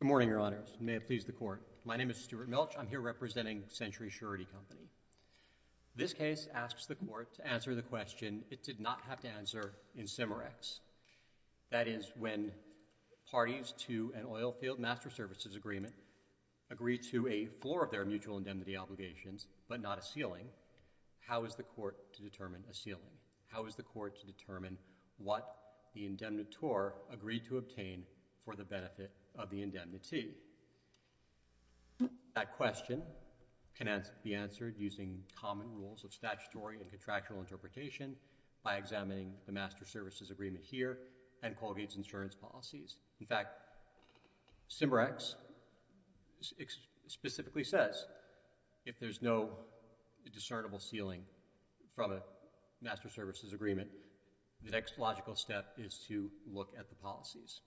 Good morning, Your Honors. May it please the Court. My name is Stuart Milch. I'm here representing Century Surety Company. This case asks the Court to answer the question it did not have to answer in CIMMEREX, that is, when parties to an oil field master services agreement agree to a floor of their mutual indemnity obligations but not a ceiling, how is the Court to determine a ceiling? How is the Court to determine what the indemnitore agreed to obtain for the benefit of the indemnity? That question can be answered using common rules of statutory and contractual interpretation by examining the master services agreement here and Colgate's insurance policies. In fact, CIMMEREX specifically says if there's no discernible ceiling from a master services agreement, the next logical step is to look at the policies.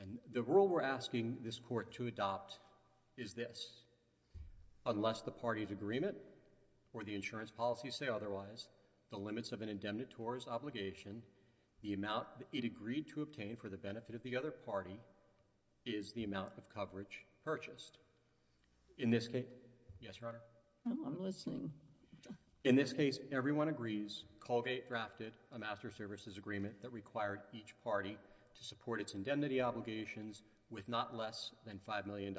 And the rule we're asking this Court to adopt is this. Unless the parties agreement or the insurance policies say otherwise, the limits of an indemnitore's obligation, the amount it agreed to obtain for the benefit of the other party is the amount of coverage purchased. In this case, yes, Your Honor? I'm listening. In this case, everyone agrees Colgate drafted a master services agreement that required each party to support its indemnity obligations with not less than $5 million.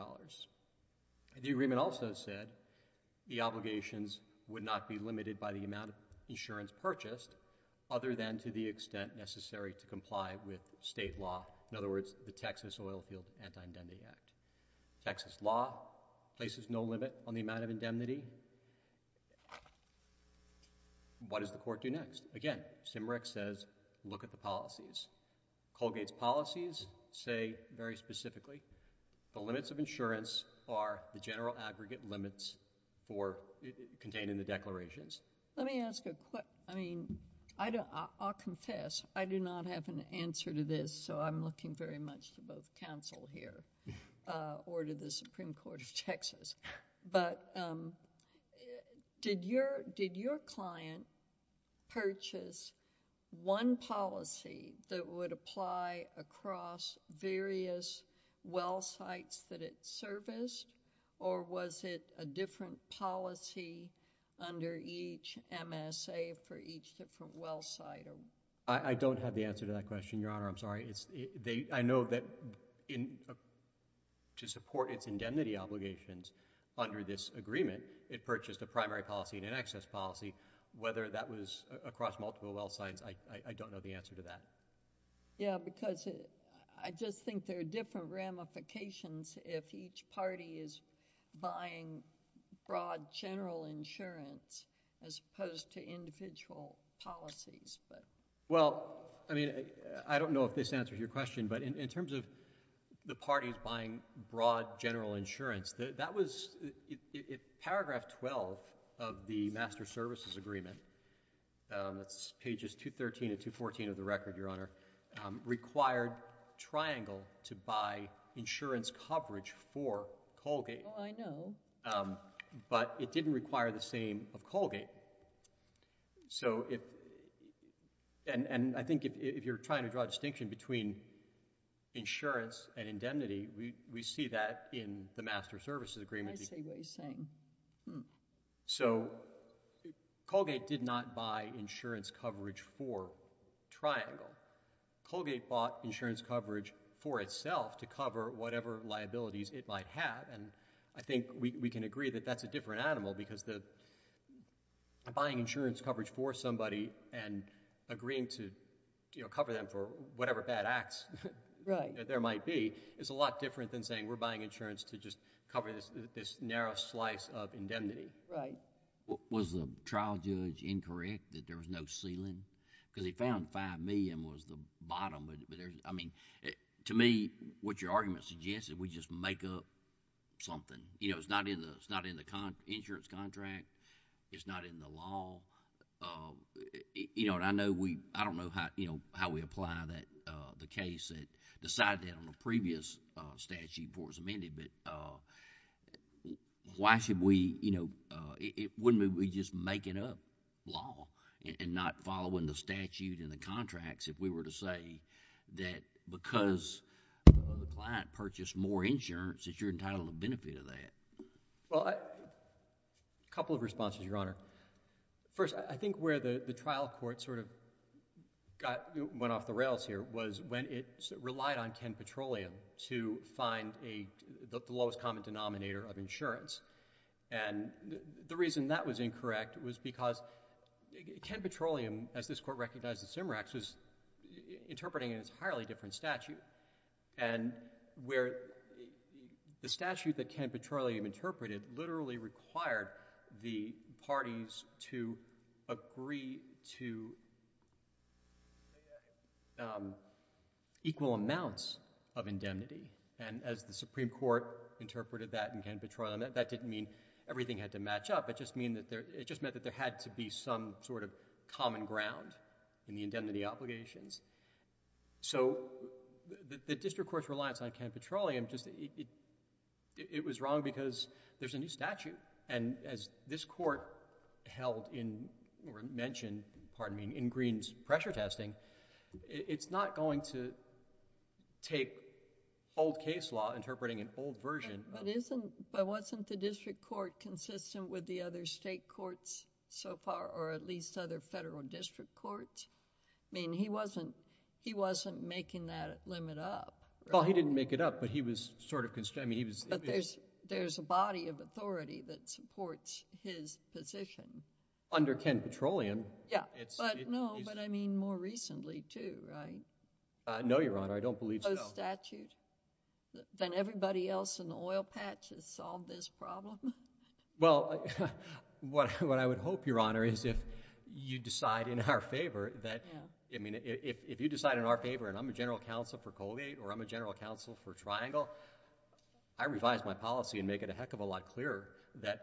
The agreement also said the obligations would not be limited by the amount of insurance purchased other than to the extent necessary to comply with state law. In other words, the Texas Oilfield Anti-Indemnity Act. Texas law places no limit on the amount of indemnity. What does the Court do next? Again, CIMMEREX says look at the policies. Colgate's policies say very specifically the limits of insurance are the general aggregate limits contained in the declarations. Let me ask a quick... I mean, I'll confess I do not have an answer to this, so I'm looking very much to both counsel here or to the Supreme Court of Texas. But did your client purchase one policy that would apply across various well sites that it serviced, or was it a different policy under each MSA for each different well site? I don't have the answer to that question, Your Honor. I'm sorry. I know that to support its indemnity obligations under this agreement, it purchased a primary policy and an excess policy. Whether that was across multiple well sites, I don't know the answer to that. Yeah, because I just think there are different ramifications if each party is buying broad general insurance as opposed to individual policies. Well, I mean, I don't know if this answers your question, but in terms of the parties buying broad general insurance, that was... Paragraph 12 of the Master Services Agreement, that's pages 213 and 214 of the record, Your Honor, required Triangle to buy insurance coverage for Colgate. Oh, I know. But it didn't require the same of Colgate. So if... and I think if you're trying to draw a distinction between insurance and indemnity, we see that in the Master Services Agreement. I see what you're saying. So Colgate did not buy insurance coverage for Triangle. Colgate bought insurance coverage for itself to cover whatever liabilities it might have, and I think we can agree that that's a different animal because buying insurance coverage for somebody and agreeing to cover them for whatever bad acts that there might be is a lot different than saying we're buying insurance to just cover this narrow slice of indemnity. Was the trial judge incorrect that there was no ceiling? Because he found $5 million was the bottom, but there's... I mean, to me, what your argument suggests is we just make up something. It's not in the insurance contract. It's not in the law. I don't know how we apply the case that decided that on a previous statute before it was amended, but why should we... it wouldn't be we just make it up law and not following the statute in the contracts if we were to say that because the client purchased more insurance, that you're entitled to benefit of that. Well, a couple of responses, Your Honor. First, I think where the trial court sort of went off the rails here was when it relied on Ken Petroleum to find the lowest common denominator of insurance, and the reason that was incorrect was because Ken Petroleum, as this Court recognized in Simerax, was interpreting a highly different statute, and where the statute that Ken Petroleum interpreted literally required the parties to agree to...... equal amounts of indemnity, and as the Supreme Court interpreted that in Ken Petroleum, that didn't mean everything had to match up. It just meant that there had to be some sort of common ground in the indemnity obligations. So, the district court's reliance on Ken Petroleum, it was wrong because there's a new statute, and as this Court held in or mentioned, pardon me, it's not going to take old case law interpreting an old version... But wasn't the district court consistent with the other state courts so far, or at least other federal district courts? I mean, he wasn't making that limit up, right? Well, he didn't make it up, but he was sort of... But there's a body of authority that supports his position. Under Ken Petroleum, it's... But, no, but I mean more recently, too, right? No, Your Honor, I don't believe so. Both statutes? Then everybody else in the oil patch has solved this problem? Well, what I would hope, Your Honor, is if you decide in our favor that... Yeah. I mean, if you decide in our favor, and I'm a general counsel for Colgate, or I'm a general counsel for Triangle, I revise my policy and make it a heck of a lot clearer that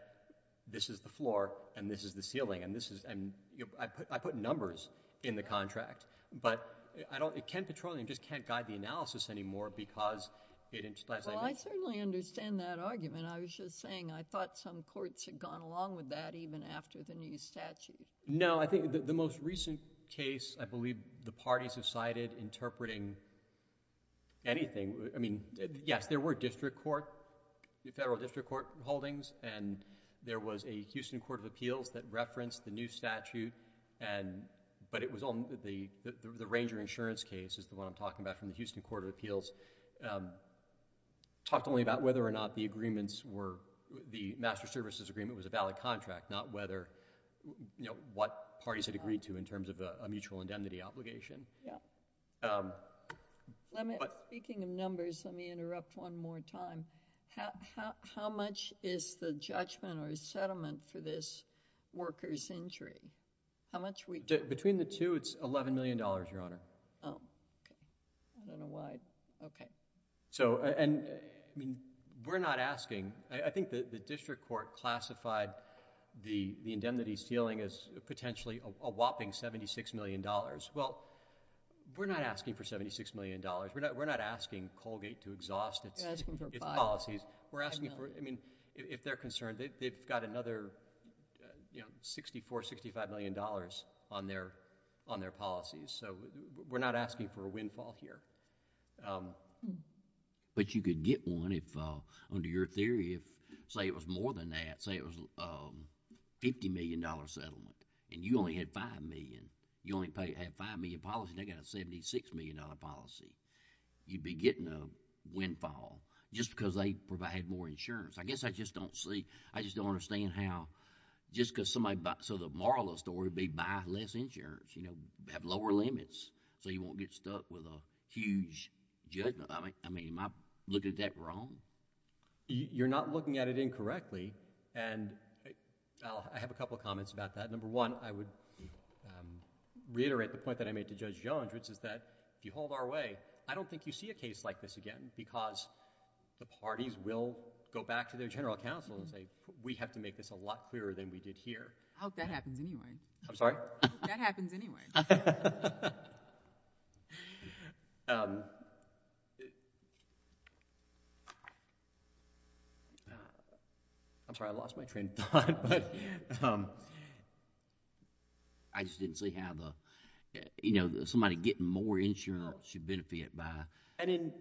this is the floor, and this is the ceiling, and this is... I put numbers in the contract, but I don't... Ken Petroleum just can't guide the analysis anymore because it... Well, I certainly understand that argument. I was just saying I thought some courts had gone along with that even after the new statute. No, I think the most recent case, I believe the parties have cited interpreting anything. I mean, yes, there were district court, federal district court holdings, and there was a Houston Court of Appeals that referenced the new statute, but it was... the Ranger insurance case is the one I'm talking about from the Houston Court of Appeals, talked only about whether or not the agreements were... the master services agreement was a valid contract, not whether... what parties had agreed to in terms of a mutual indemnity obligation. Yeah. Speaking of numbers, let me interrupt one more time. How much is the judgment or settlement for this worker's injury? How much we... Between the two, it's $11 million, Your Honor. Oh, okay. I don't know why. Okay. We're not asking... I think the district court classified the indemnity ceiling as potentially a whopping $76 million. Well, we're not asking for $76 million. We're You're asking for $5 million. We're asking for... I mean, if they're concerned, they've got another $64, $65 million on their policies, so we're not asking for a windfall here. But you could get one if, under your theory, say it was more than that, say it was a $50 million settlement, and you only had $5 million. You only had $5 million policy, and they got a $76 million policy. You'd be getting a windfall just because they provide more insurance. I guess I just don't see... I just don't understand how, just because somebody... So the moral of the story would be buy less insurance, you know, have lower limits, so you won't get stuck with a huge judgment. I mean, am I looking at that wrong? You're not looking at it incorrectly, and I have a couple of comments about that. Number one, I would reiterate the point that I made to Judge Jones, which is that if you hold our way, I don't think you see a case like this again, because the parties will go back to their general counsel and say, we have to make this a lot clearer than we did here. I hope that happens anyway. I'm sorry? I hope that happens anyway. I'm sorry, I lost my train of thought. I just didn't see how the... you know, somebody getting more insurance should benefit by... And in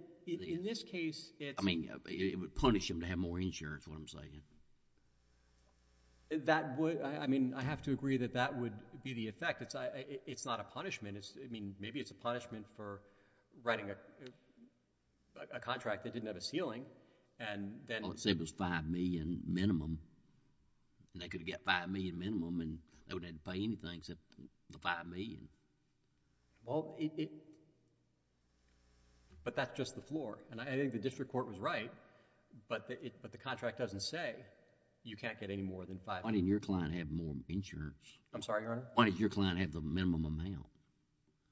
this case, it's... I mean, it would punish them to have more insurance, is what I'm saying. That would... I mean, I have to agree that that would be the effect. It's not a punishment. I mean, maybe it's a punishment for writing a contract that didn't have a ceiling, and then... Well, let's say it was $5 million minimum, and they could have got $5 million minimum, and they wouldn't have had to pay anything except the $5 million. Well, it... but that's just the floor, and I think the district court was right, but the contract doesn't say you can't get any more than $5 million. Why didn't your client have more insurance? I'm sorry, Your Honor? Why didn't your client have the minimum amount?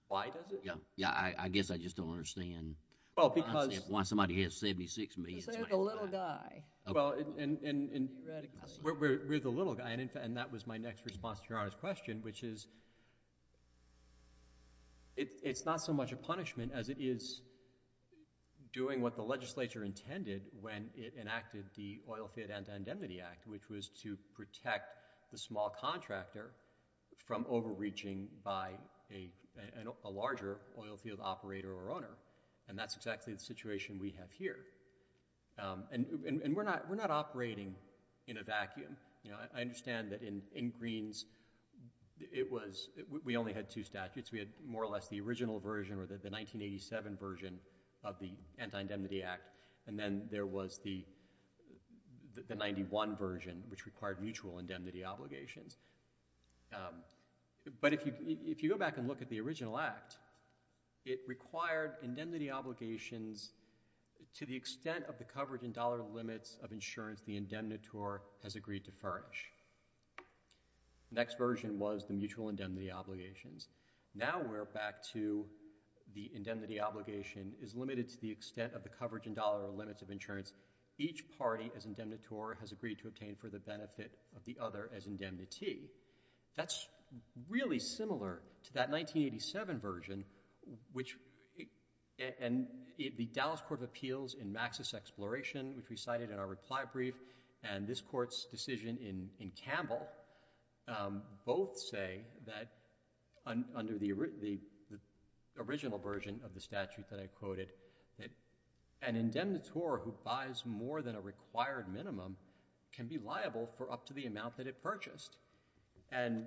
Why does it? Yeah, I guess I just don't understand... Well, because... Why somebody who has 76 million... Because they're the little guy. Well, and... Theoretically. We're the little guy, and that was my next response to Your Honor's question, which is it's not so much a punishment as it is doing what the legislature intended when it enacted the Oil Field Anti-Andemnity Act, which was to protect the small contractor from overreaching by a larger oil field operator or owner, and that's exactly the situation we have here. And we're not operating in a vacuum. I understand that in Greene's, it was... we only had two statutes. We had more or less the original version or the 1987 version of the Anti-Indemnity Act, and then there was the 91 version, which required mutual indemnity obligations. But if you go back and look at the original act, it required indemnity obligations to the extent of the coverage in dollar limits of insurance the indemnitor has agreed to furnish. The next version was the mutual indemnity obligations. Now we're back to the indemnity obligation is limited to the extent of the coverage in dollar limits of insurance each party as indemnitor has agreed to obtain for the benefit of the other as indemnity. That's really similar to that 1987 version, which... and the Dallas Court of Appeals in Maxis Exploration, which we cited in our reply brief, and this court's decision in Campbell, both say that under the original version of the statute that I quoted, that an indemnitor who buys more than a required minimum can be liable for up to the amount that it purchased. And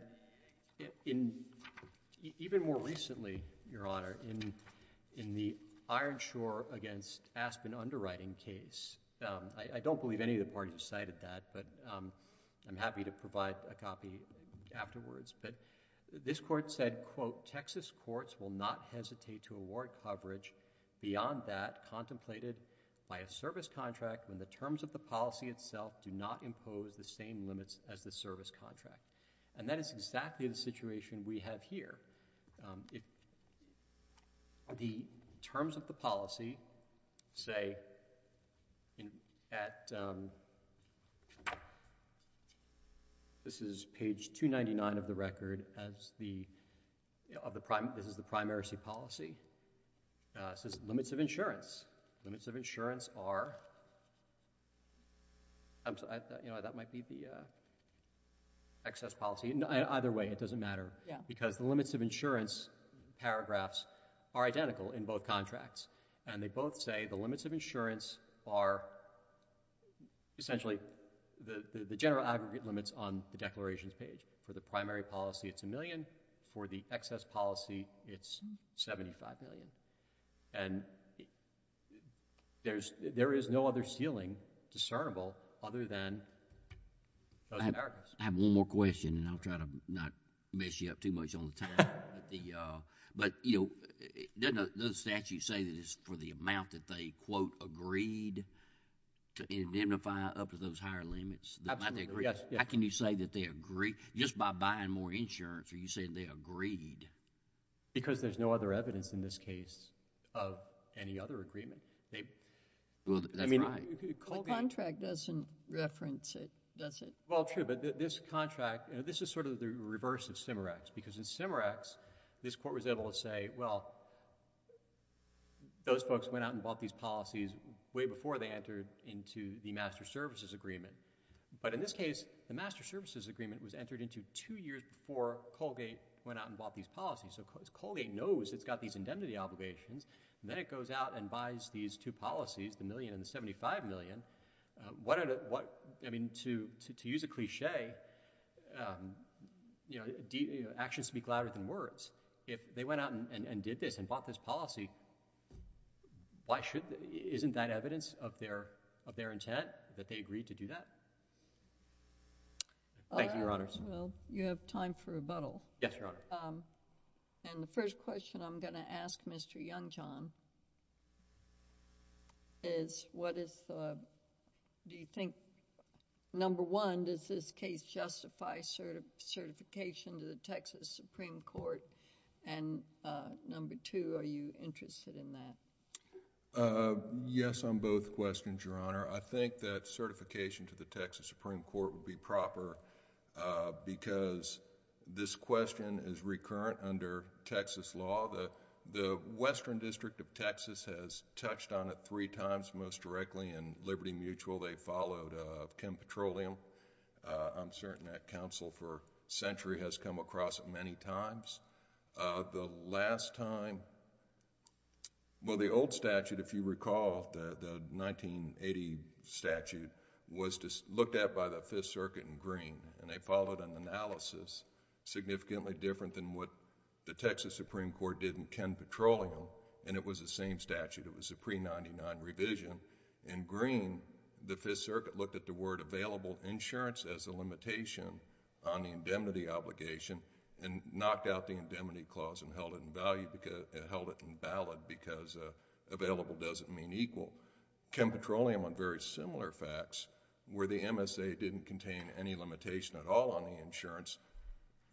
even more recently, Your Honor, in the Ironshore v. Aspen underwriting case, I don't believe any of the parties cited that, but I'm happy to provide a copy afterwards, but this court said, quote, Texas courts will not hesitate to award coverage beyond that contemplated by a service contract when the terms of the policy itself do not impose the same limits as the service contract. And that is exactly the situation we have here. The terms of the policy, say, at... this is page 299 of the record as the... this is the primacy policy, says limits of insurance. Limits of insurance are... You know, that might be the excess policy. Either way, it doesn't matter. Yeah. Because the limits of insurance paragraphs are identical in both contracts, and they both say the limits of insurance are essentially the general aggregate limits on the declarations page. For the primary policy, it's a million. For the excess policy, it's 75 million. And there is no other ceiling discernible other than... I have one more question, and I'll try to not mess you up too much on the time, but you know, doesn't the statute say that it's for the amount that they, quote, agreed to indemnify up to those higher limits... Absolutely. Yes. How can you say that they agree just by buying more insurance, or you say they agreed? Because there's no other evidence in this case of any other agreement. Well, that's right. I mean, Colgate... The contract doesn't reference it, does it? Well, true, but this contract, this is sort of the reverse of CIMARACS, because in CIMARACS, this court was able to say, well, those folks went out and bought these policies way before they entered into the master services agreement. But in this case, the master services agreement was entered into two years before Colgate went out and bought these policies. So Colgate knows it's got these indemnity obligations, and then it goes out and buys these two policies, the million and the $75 million. What... I mean, to use a cliché, you know, actions speak louder than words. If they went out and did this and bought this policy, why should... isn't that evidence of their intent that they agreed to do that? Well, you have time for rebuttal. Yes, Your Honor. And the first question I'm going to ask Mr. Youngjohn is, what is... do you think, number one, does this case justify certification to the Texas Supreme Court, and number two, are you interested in that? Yes, on both questions, Your Honor. I think that certification to the Texas Supreme Court would be proper because this question is recurrent under Texas law. The Western District of Texas has touched on it three times most directly in Liberty Mutual. They followed Kim Petroleum. I'm certain that counsel for a century has come across it many times. The last time... well, the old statute, if you recall, the 1980 statute, was looked at by the Fifth Circuit in green, and they followed an analysis significantly different than what the Texas Supreme Court did in Kim Petroleum, and it was the same statute. It was a pre-1999 revision. In green, the Fifth Circuit looked at the word available insurance as a limitation on the indemnity obligation and knocked out the indemnity clause and held it invalid because available doesn't mean equal. Kim Petroleum, on very similar facts, where the MSA didn't contain any limitation at all on the insurance,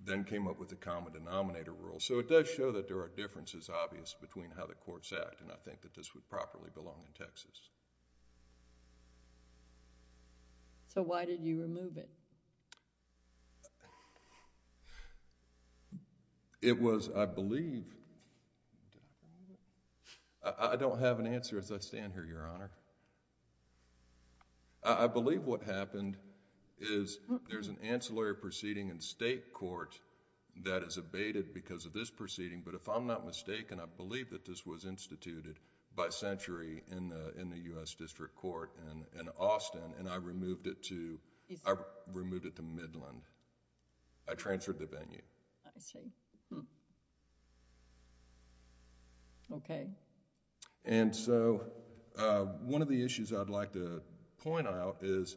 then came up with the common denominator rule, so it does show that there are differences, obvious, between how the courts act, and I think that this would properly belong in Texas. I don't have an answer as I stand here, Your Honor. I believe what happened is there's an ancillary proceeding in state court that is abated because of this proceeding, but if I'm not mistaken, I believe that this was instituted by century in the U.S. District Court in Austin, and I removed it to Midland. I transferred the venue. One of the issues I'd like to point out is,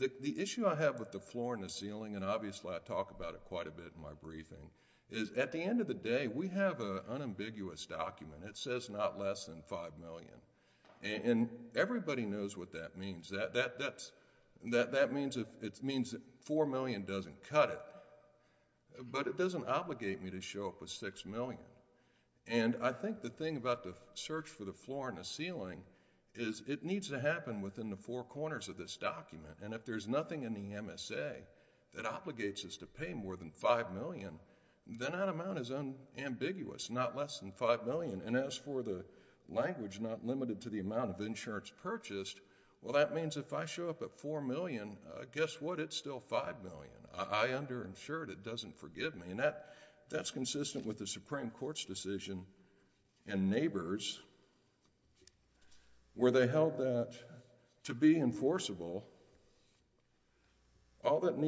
the issue I have with the floor and the ceiling, and obviously I talk about it quite a bit in my briefing, is at the end of the day, we have an unambiguous document. It says not less than $5 million. Everybody knows what that means. That means $4 million doesn't cut it, but it doesn't obligate me to show up with $6 million. I think the thing about the search for the floor and the ceiling is it needs to happen within the four corners of this document, and if there's nothing in the MSA that amount is unambiguous, not less than $5 million, and as for the language not limited to the amount of insurance purchased, well, that means if I show up at $4 million, guess what? It's still $5 million. I underinsured. It doesn't forgive me, and that's consistent with the Supreme Court's decision and neighbors where they held that to be enforceable, all that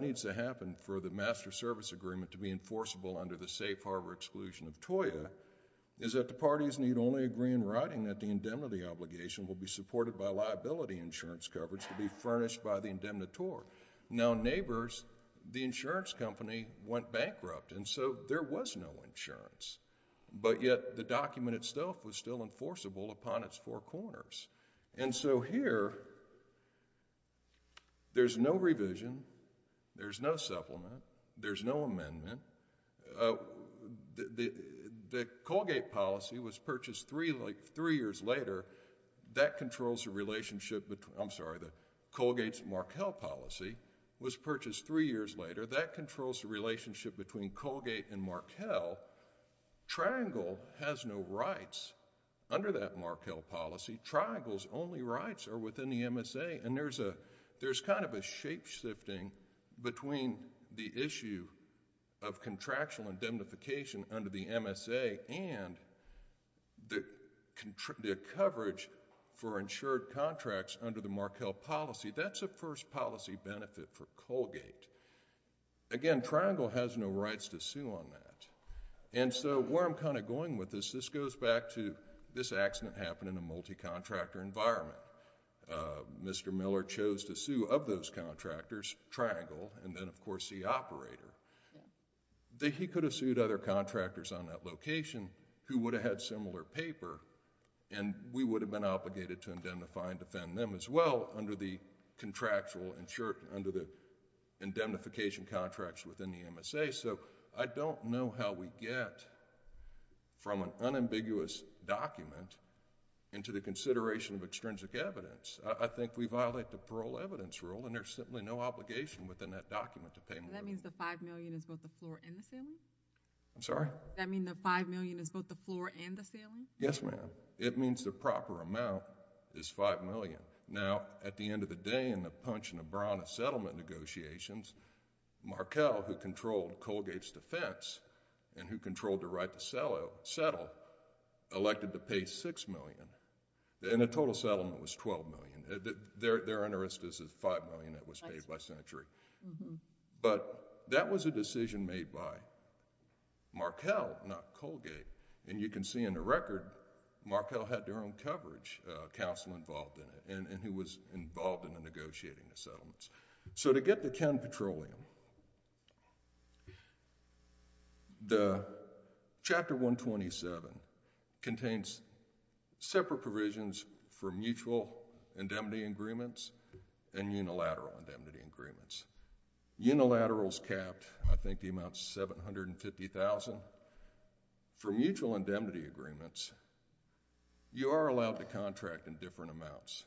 needs to happen for the Master Service Agreement to be enforceable under the safe harbor exclusion of TOIA, is that the parties need only agree in writing that the indemnity obligation will be supported by liability insurance coverage to be furnished by the indemnitor. Now neighbors, the insurance company went bankrupt, and so there was no insurance, but yet the document itself was still enforceable upon its four corners, and so here there's no revision, there's no supplement, there's no amendment. The Colgate policy was purchased three years later. That controls the relationship between... I'm sorry, the Colgate-Markell policy was purchased three years later. That controls the relationship between Colgate and Markell. Triangle has no rights under that Markell policy. Triangle's only rights are within the MSA, and there's kind of a shapeshifting between the issue of contractual indemnification under the MSA and the coverage for insured contracts under the Markell policy. That's a first policy benefit for Colgate. Again, Triangle has no rights to sue on that, and so where I'm kind of going with this, this goes back to this accident happened in a multi-contractor environment. Mr. Miller chose to sue of those contractors, Triangle, and then of course the operator. He could have sued other contractors on that location who would have had similar paper, and we would have been obligated to indemnify and defend them as well under the contractual... under the indemnification contracts within the MSA. I don't know how we get from an unambiguous document into the consideration of extrinsic evidence. I think we violate the parole evidence rule, and there's simply no obligation within that document to pay more. That means the five million is both the floor and the ceiling? I'm sorry? That means the five million is both the floor and the ceiling? Yes, ma'am. It means the proper amount is five million. Now, at the end of the day, in the punch and the brown of settlement negotiations, Markell, who controlled Colgate's defense and who controlled the right to settle, elected to pay six million, and the total settlement was twelve million. Their interest is the five million that was paid by Century. But that was a decision made by Markell, not Colgate, and you can see in the record, Markell had their own coverage counsel involved in it, and who was involved in the negotiating the settlements. To get the Ken Petroleum, the Chapter 127 contains separate provisions for mutual indemnity agreements and unilateral indemnity agreements. Unilaterals capped, I think the amount's 750,000. For mutual indemnity agreements, you are allowed to contract in different amounts,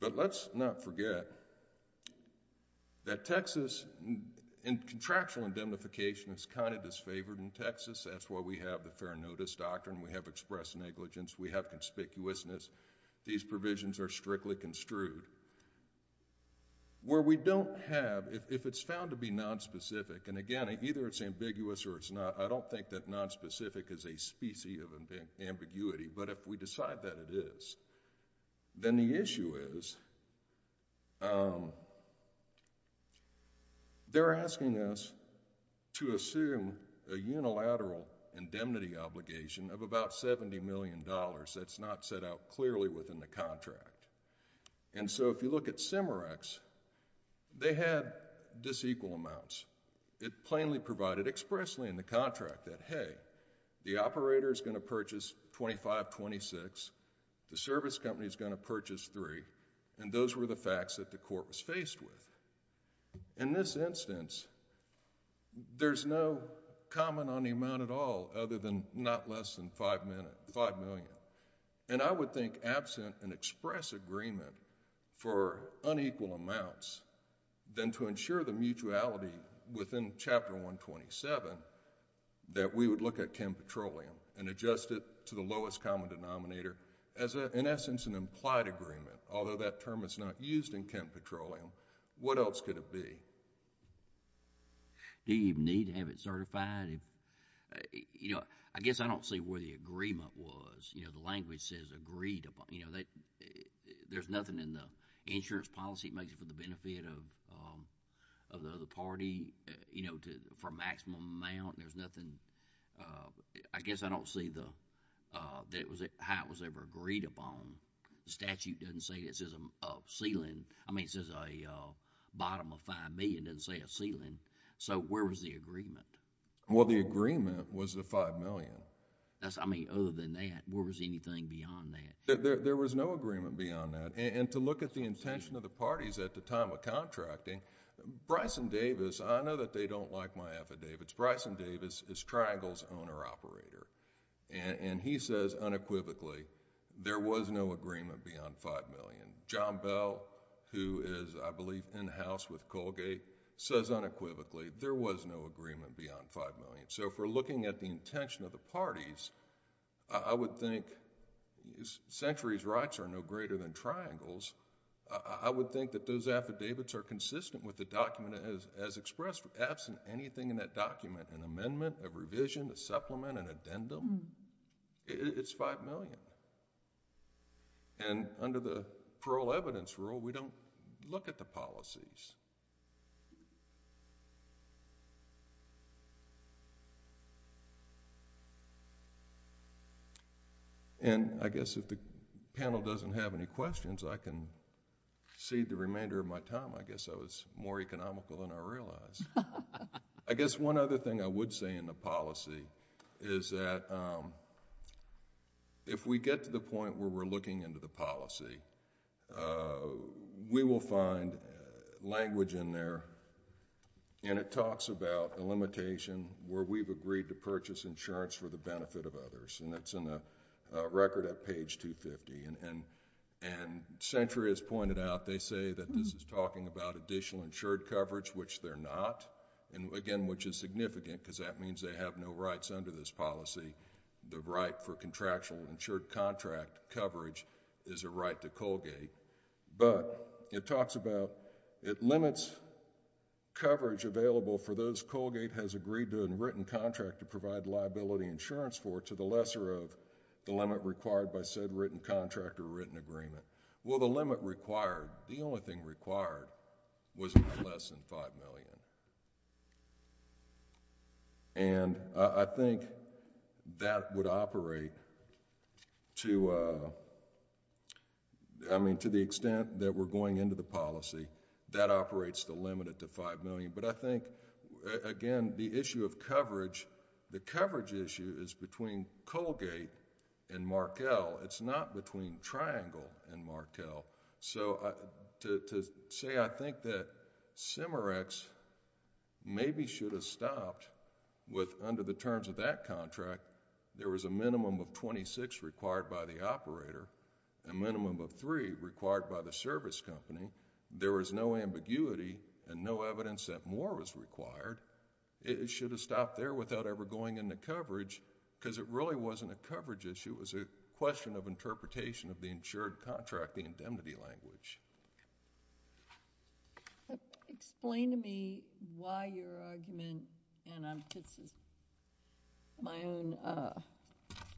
but let's not forget that Texas, in contractual indemnification, is kind of disfavored in Texas. That's why we have the fair notice doctrine. We have express negligence. We have conspicuousness. These provisions are strictly construed. Where we don't have, if it's found to be nonspecific, and again, either it's ambiguous or it's not, I don't think that nonspecific is a specie of ambiguity, but if we decide that it is, then the issue is they're asking us to assume a unilateral indemnity obligation of about $70 million that's not set out clearly within the contract, and so if you look at CIMMEREX, they had disequal amounts. It plainly provided expressly in the contract that, hey, the operator's going to purchase $25,000, $26,000, the service company's going to purchase $3,000, and those were the facts that the court was faced with. In this instance, there's no comment on the amount at all other than not less than $5 million, and I would think absent an express agreement for unequal amounts, then to ensure the mutuality within Chapter 127, that we would look at Kemp Petroleum and adjust it to the lowest common denominator as, in essence, an implied agreement, although that term is not used in Kemp Petroleum. What else could it be? Do you even need to have it certified? I guess I don't see where the agreement was. The language says agreed upon. There's nothing in the insurance policy that makes it for the benefit of the party, for maximum amount. There's nothing... I guess I don't see how it was ever agreed upon. The statute doesn't say this is a ceiling. I mean, it says a bottom of $5 million. It doesn't say a ceiling. So, where was the agreement? Well, the agreement was the $5 million. I mean, other than that, where was anything beyond that? There was no agreement beyond that, and to look at the intention of the parties at the time of contracting, Bryson Davis... I know that they don't like my affidavits. Bryson Davis is Triangle's owner-operator, and he says unequivocally, there was no agreement beyond $5 million. John Bell, who is, I believe, in-house with Colgate, says unequivocally, there was no agreement beyond $5 million. So, if we're looking at the intention of the parties, I would think, Century's rights are no greater than Triangle's. I would think that those affidavits are consistent with the document as expressed. Absent anything in that document, an amendment, a revision, a supplement, an addendum, it's $5 million. Under the parole evidence rule, we don't look at the policies. I guess if the panel doesn't have any questions, I can cede the remainder of my time. I guess I was more economical than I realized. I guess one other thing I would say in the policy is that if we get to the point where we're looking into the policy, we will find language in there, and it benefits others. It's in the record at page 250. Century has pointed out, they say that this is talking about additional insured coverage, which they're not. Again, which is significant because that means they have no rights under this policy. The right for contractual insured contract coverage is a right to Colgate. But, it talks about, it limits coverage available for those Colgate has agreed to a written contract to provide liability insurance for, to the lesser of the limit required by said written contract or written agreement. Well, the limit required, the only thing required, was less than $5 million. I think that would operate to the extent that we're going into the policy. That operates to limit it to $5 million. I think, again, the issue of coverage, the coverage issue is between Colgate and Markell. It's not between Triangle and Markell. To say, I think that Cimerex maybe should have stopped with under the terms of that contract, there was a minimum of $26 required by the operator, a minimum of $3 required by the service company. There was no ambiguity and no evidence that more was required. It should have stopped there without ever going into coverage because it really wasn't a coverage issue. It was a question of interpretation of the insured contract indemnity language. Explain to me why your argument, and this is my own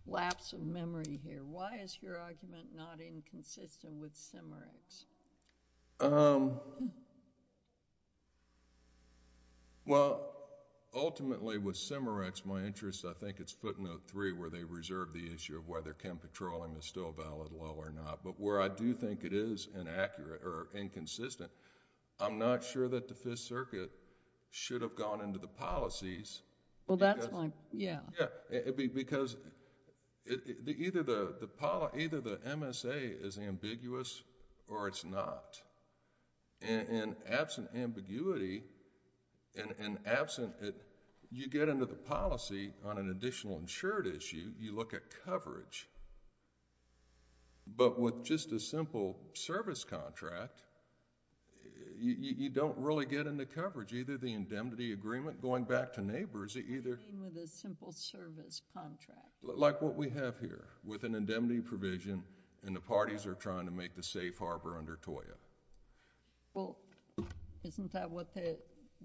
lapse of memory here. Why is your argument not inconsistent with Cimerex? Well, ultimately with Cimerex, my interest, I think it's footnote three where they reserve the issue of whether chem patrolling is still a valid law or not, but where I do think it is inaccurate or inconsistent, I'm not sure that the Fifth Circuit should have gone into the policies. Well, that's my... yeah. Because either the MSA is ambiguous or it's not. In absent ambiguity and absent... you get into the policy on an additional insured issue, you look at coverage. But with just a simple service contract, you don't really get into coverage. Either the indemnity agreement going back to neighbors, either... What do you mean with a simple service contract? Like what we have here with an indemnity provision and the parties are trying to safe harbor under TOIA. Well, isn't that what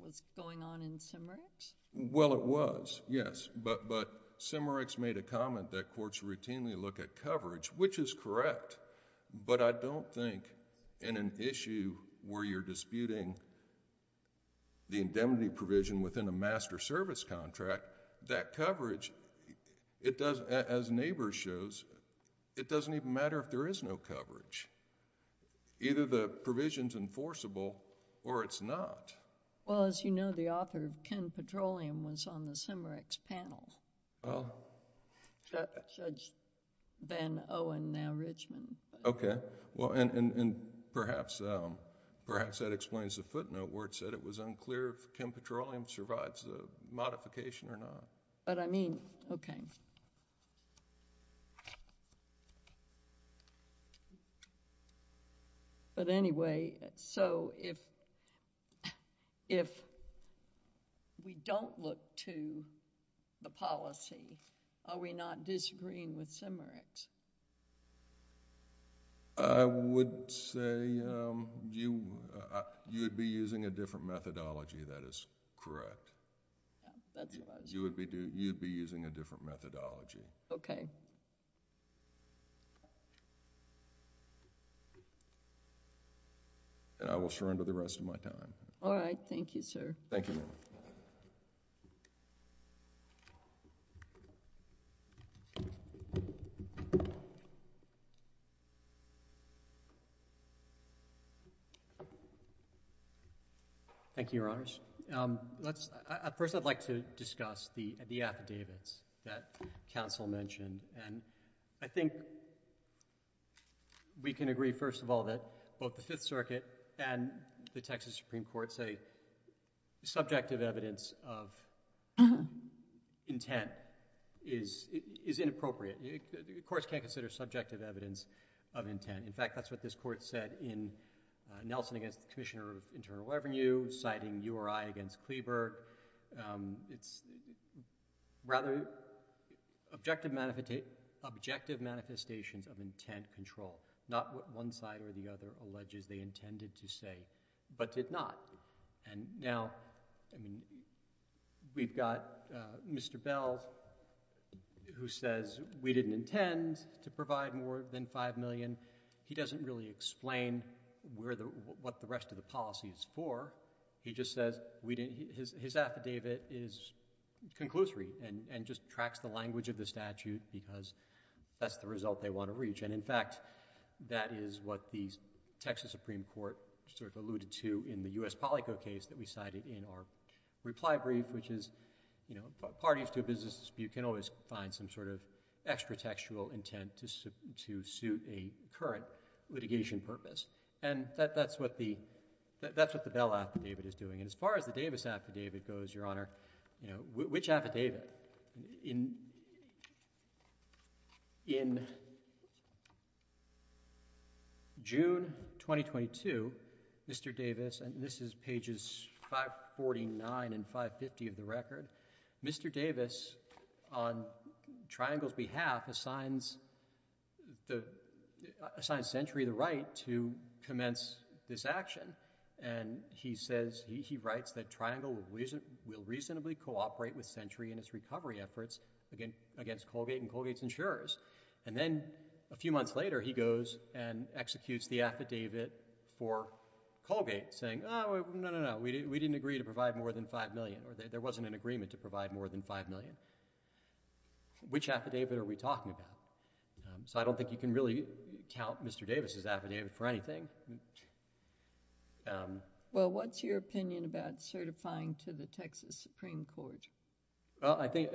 was going on in Cimerex? Well, it was, yes, but Cimerex made a comment that courts routinely look at coverage, which is correct, but I don't think in an issue where you're disputing the indemnity provision within a master service contract, that coverage, as neighbors shows, it doesn't even matter if there is no coverage. Either the provision's enforceable or it's not. Well, as you know, the author of Ken Petroleum was on the Cimerex panel. Judge Van Owen, now Richmond. Okay. Well, and perhaps that explains the footnote where it said it was unclear if Ken Petroleum survives the modification or not. But I mean... okay. But anyway, so if we don't look to the policy, are we not disagreeing with Cimerex? I would say you would be using a different methodology. That is correct. That's what I was... You would be using a different methodology. Okay. And I will surrender the rest of my time. All right. Thank you, sir. Thank you. Thank you, Your Honors. Let's... at first, I'd like to discuss the affidavits that counsel mentioned. And I think we can agree, first of all, that both the Fifth Circuit and the Texas Supreme Court say subjective evidence of intent is inappropriate. The courts can't consider subjective evidence of intent. In fact, that's what this Court said in Nelson against the Commissioner of Internal Revenue, citing URI against Kleberg. It's rather objective manifestations of intent control, not what one side or the other alleges they intended to say but did not. And now, I mean, we've got Mr. Bell who says we didn't intend to provide more than $5 million. He doesn't really explain what the rest of the policy is for. He just says his affidavit is conclusory and just tracks the language of the statute because that's the result they want to reach. And in fact, that is what the Texas Supreme Court sort of alluded to in the U.S. Polico case that we cited in our reply brief, which is, you know, parties to a business dispute can always find some sort of extra textual intent to suit a current litigation purpose. And that's what the Bell affidavit is doing. And as far as the Davis affidavit goes, Your Honor, you know, which affidavit? In June 2022, Mr. Davis, and this is pages 549 and 550 of the record, Mr. Bell assigns Century the right to commence this action. And he says, he writes that Triangle will reasonably cooperate with Century in its recovery efforts against Colgate and Colgate's insurers. And then a few months later, he goes and executes the affidavit for Colgate saying, oh, no, no, no, we didn't agree to provide more than $5 million or there wasn't an agreement to provide more than $5 million. Which affidavit are we talking about? So I don't think you can really count Mr. Davis' affidavit for anything. Um... Well, what's your opinion about certifying to the Texas Supreme Court? Well, I think...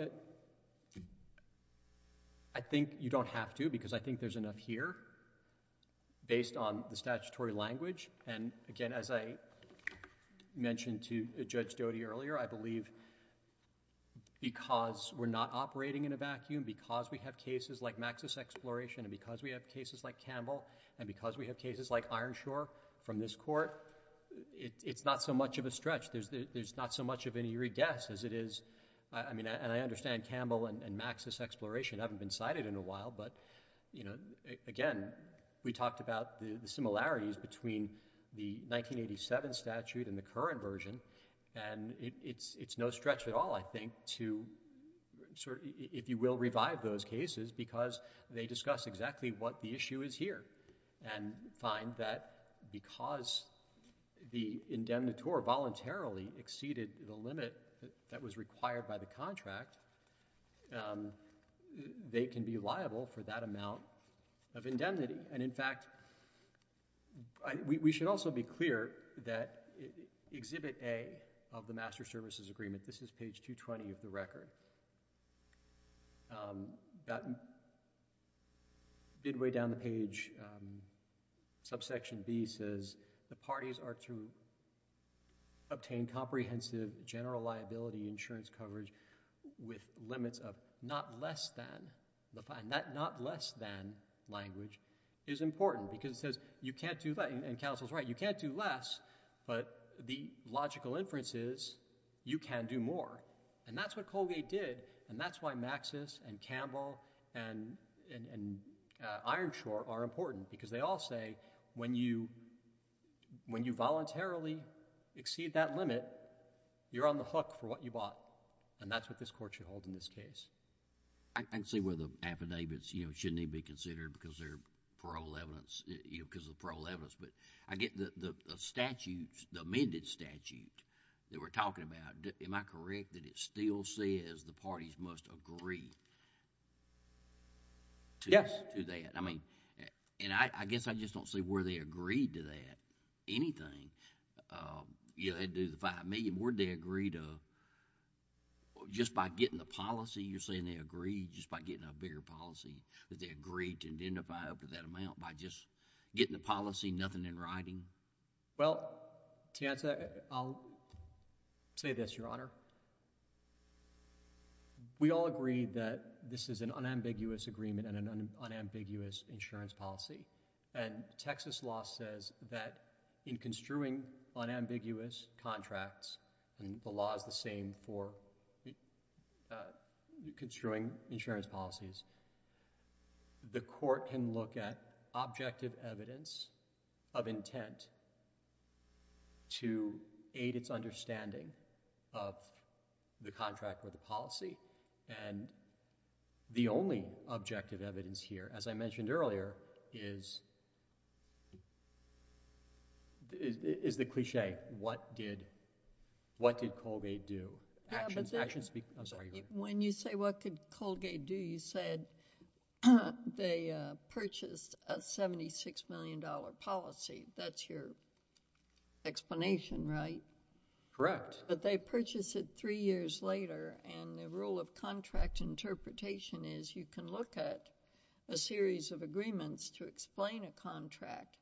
I think you don't have to because I think there's enough here based on the statutory language. And again, as I mentioned to Judge Doty earlier, I believe because we're not and because we have cases like Campbell and because we have cases like Ironshore from this court, it's not so much of a stretch. There's not so much of an eerie guess as it is... I mean, and I understand Campbell and Maxis Exploration haven't been cited in a while but, you know, again, we talked about the similarities between the 1987 statute and the current version and it's no stretch at all, I think, to sort of, if you will, revive those cases because they discuss exactly what the issue is here and find that because the indemnitore voluntarily exceeded the limit that was required by the contract, they can be liable for that amount of indemnity. And in fact, we should also be clear that Exhibit A of the Master Services Agreement, this is page 220 of the record, midway down the page, subsection B says, the parties are to obtain comprehensive general liability insurance coverage with limits of not less than... not less than language is important because it says you can't do... and counsel's right, you can't do less but the logical inference is you can do more and that's what Colgate did and that's why Maxis and Campbell and Ironshore are important because they all say when you voluntarily exceed that limit, you're on the hook for what you bought and that's what this Court should hold in this case. I can see why the affidavits, you know, shouldn't even be considered because they're parole evidence, you know, because of parole evidence, but I get the statutes, the amended statute that we're talking about. Am I correct that it still says the parties must agree... Yes.... to that? I mean, and I guess I just don't see where they agreed to that, anything. You know, they do the $5 million. Where did they agree to... just by getting the policy, you're saying they agreed just by getting a bigger policy, that they agreed to identify up to that amount by just getting the policy, nothing in writing? Well, Tianta, I'll say this, Your Honor. We all agree that this is an unambiguous agreement and an unambiguous insurance policy and Texas law says that in construing unambiguous contracts and the construing insurance policies, the court can look at objective evidence of intent to aid its understanding of the contract or the policy and the only objective evidence here, as I mentioned earlier, is the cliché, what did Colgate do, actions speak... I'm sorry, Your Honor. When you say what could Colgate do, you said they purchased a $76 million policy. That's your explanation, right? Correct. But they purchased it three years later and the rule of contract interpretation is you can look at a series of agreements to explain a contract,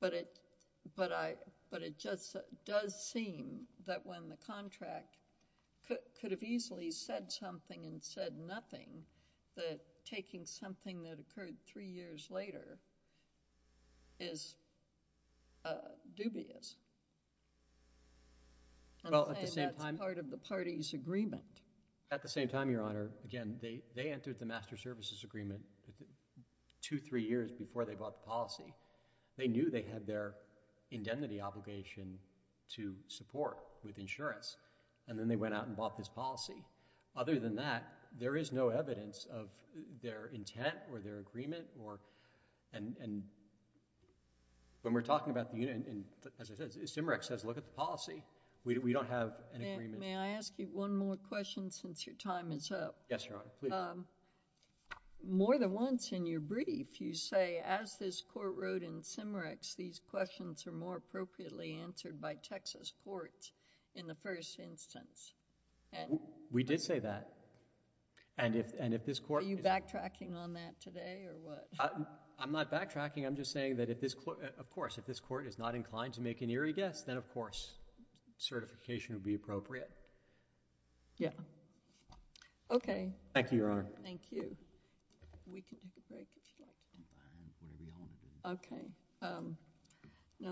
but it just does seem that when the contract could have easily said something and said nothing, that taking something that occurred three years later is dubious. I'm saying that's part of the party's agreement. At the same time, Your Honor, again, they entered the master services agreement two, three years before they bought the policy. They knew they had their indemnity obligation to support with insurance and then they went out and bought this policy. Other than that, there is no evidence of their intent or their agreement or... and when we're talking about the... and as I said, CIMREC says look at the policy. We don't have an agreement... May I ask you one more question since your time is up? Yes, Your Honor, please. More than once in your brief, you say as this court wrote in CIMREC, these questions are more appropriately answered by Texas courts in the first instance. We did say that and if this court... Are you backtracking on that today or what? I'm not backtracking. I'm just saying that if this... of course, if this court is not inclined to make an eerie guess, then of course, certification would be appropriate. Yeah. Okay. Thank you, Your Honor. Thank you.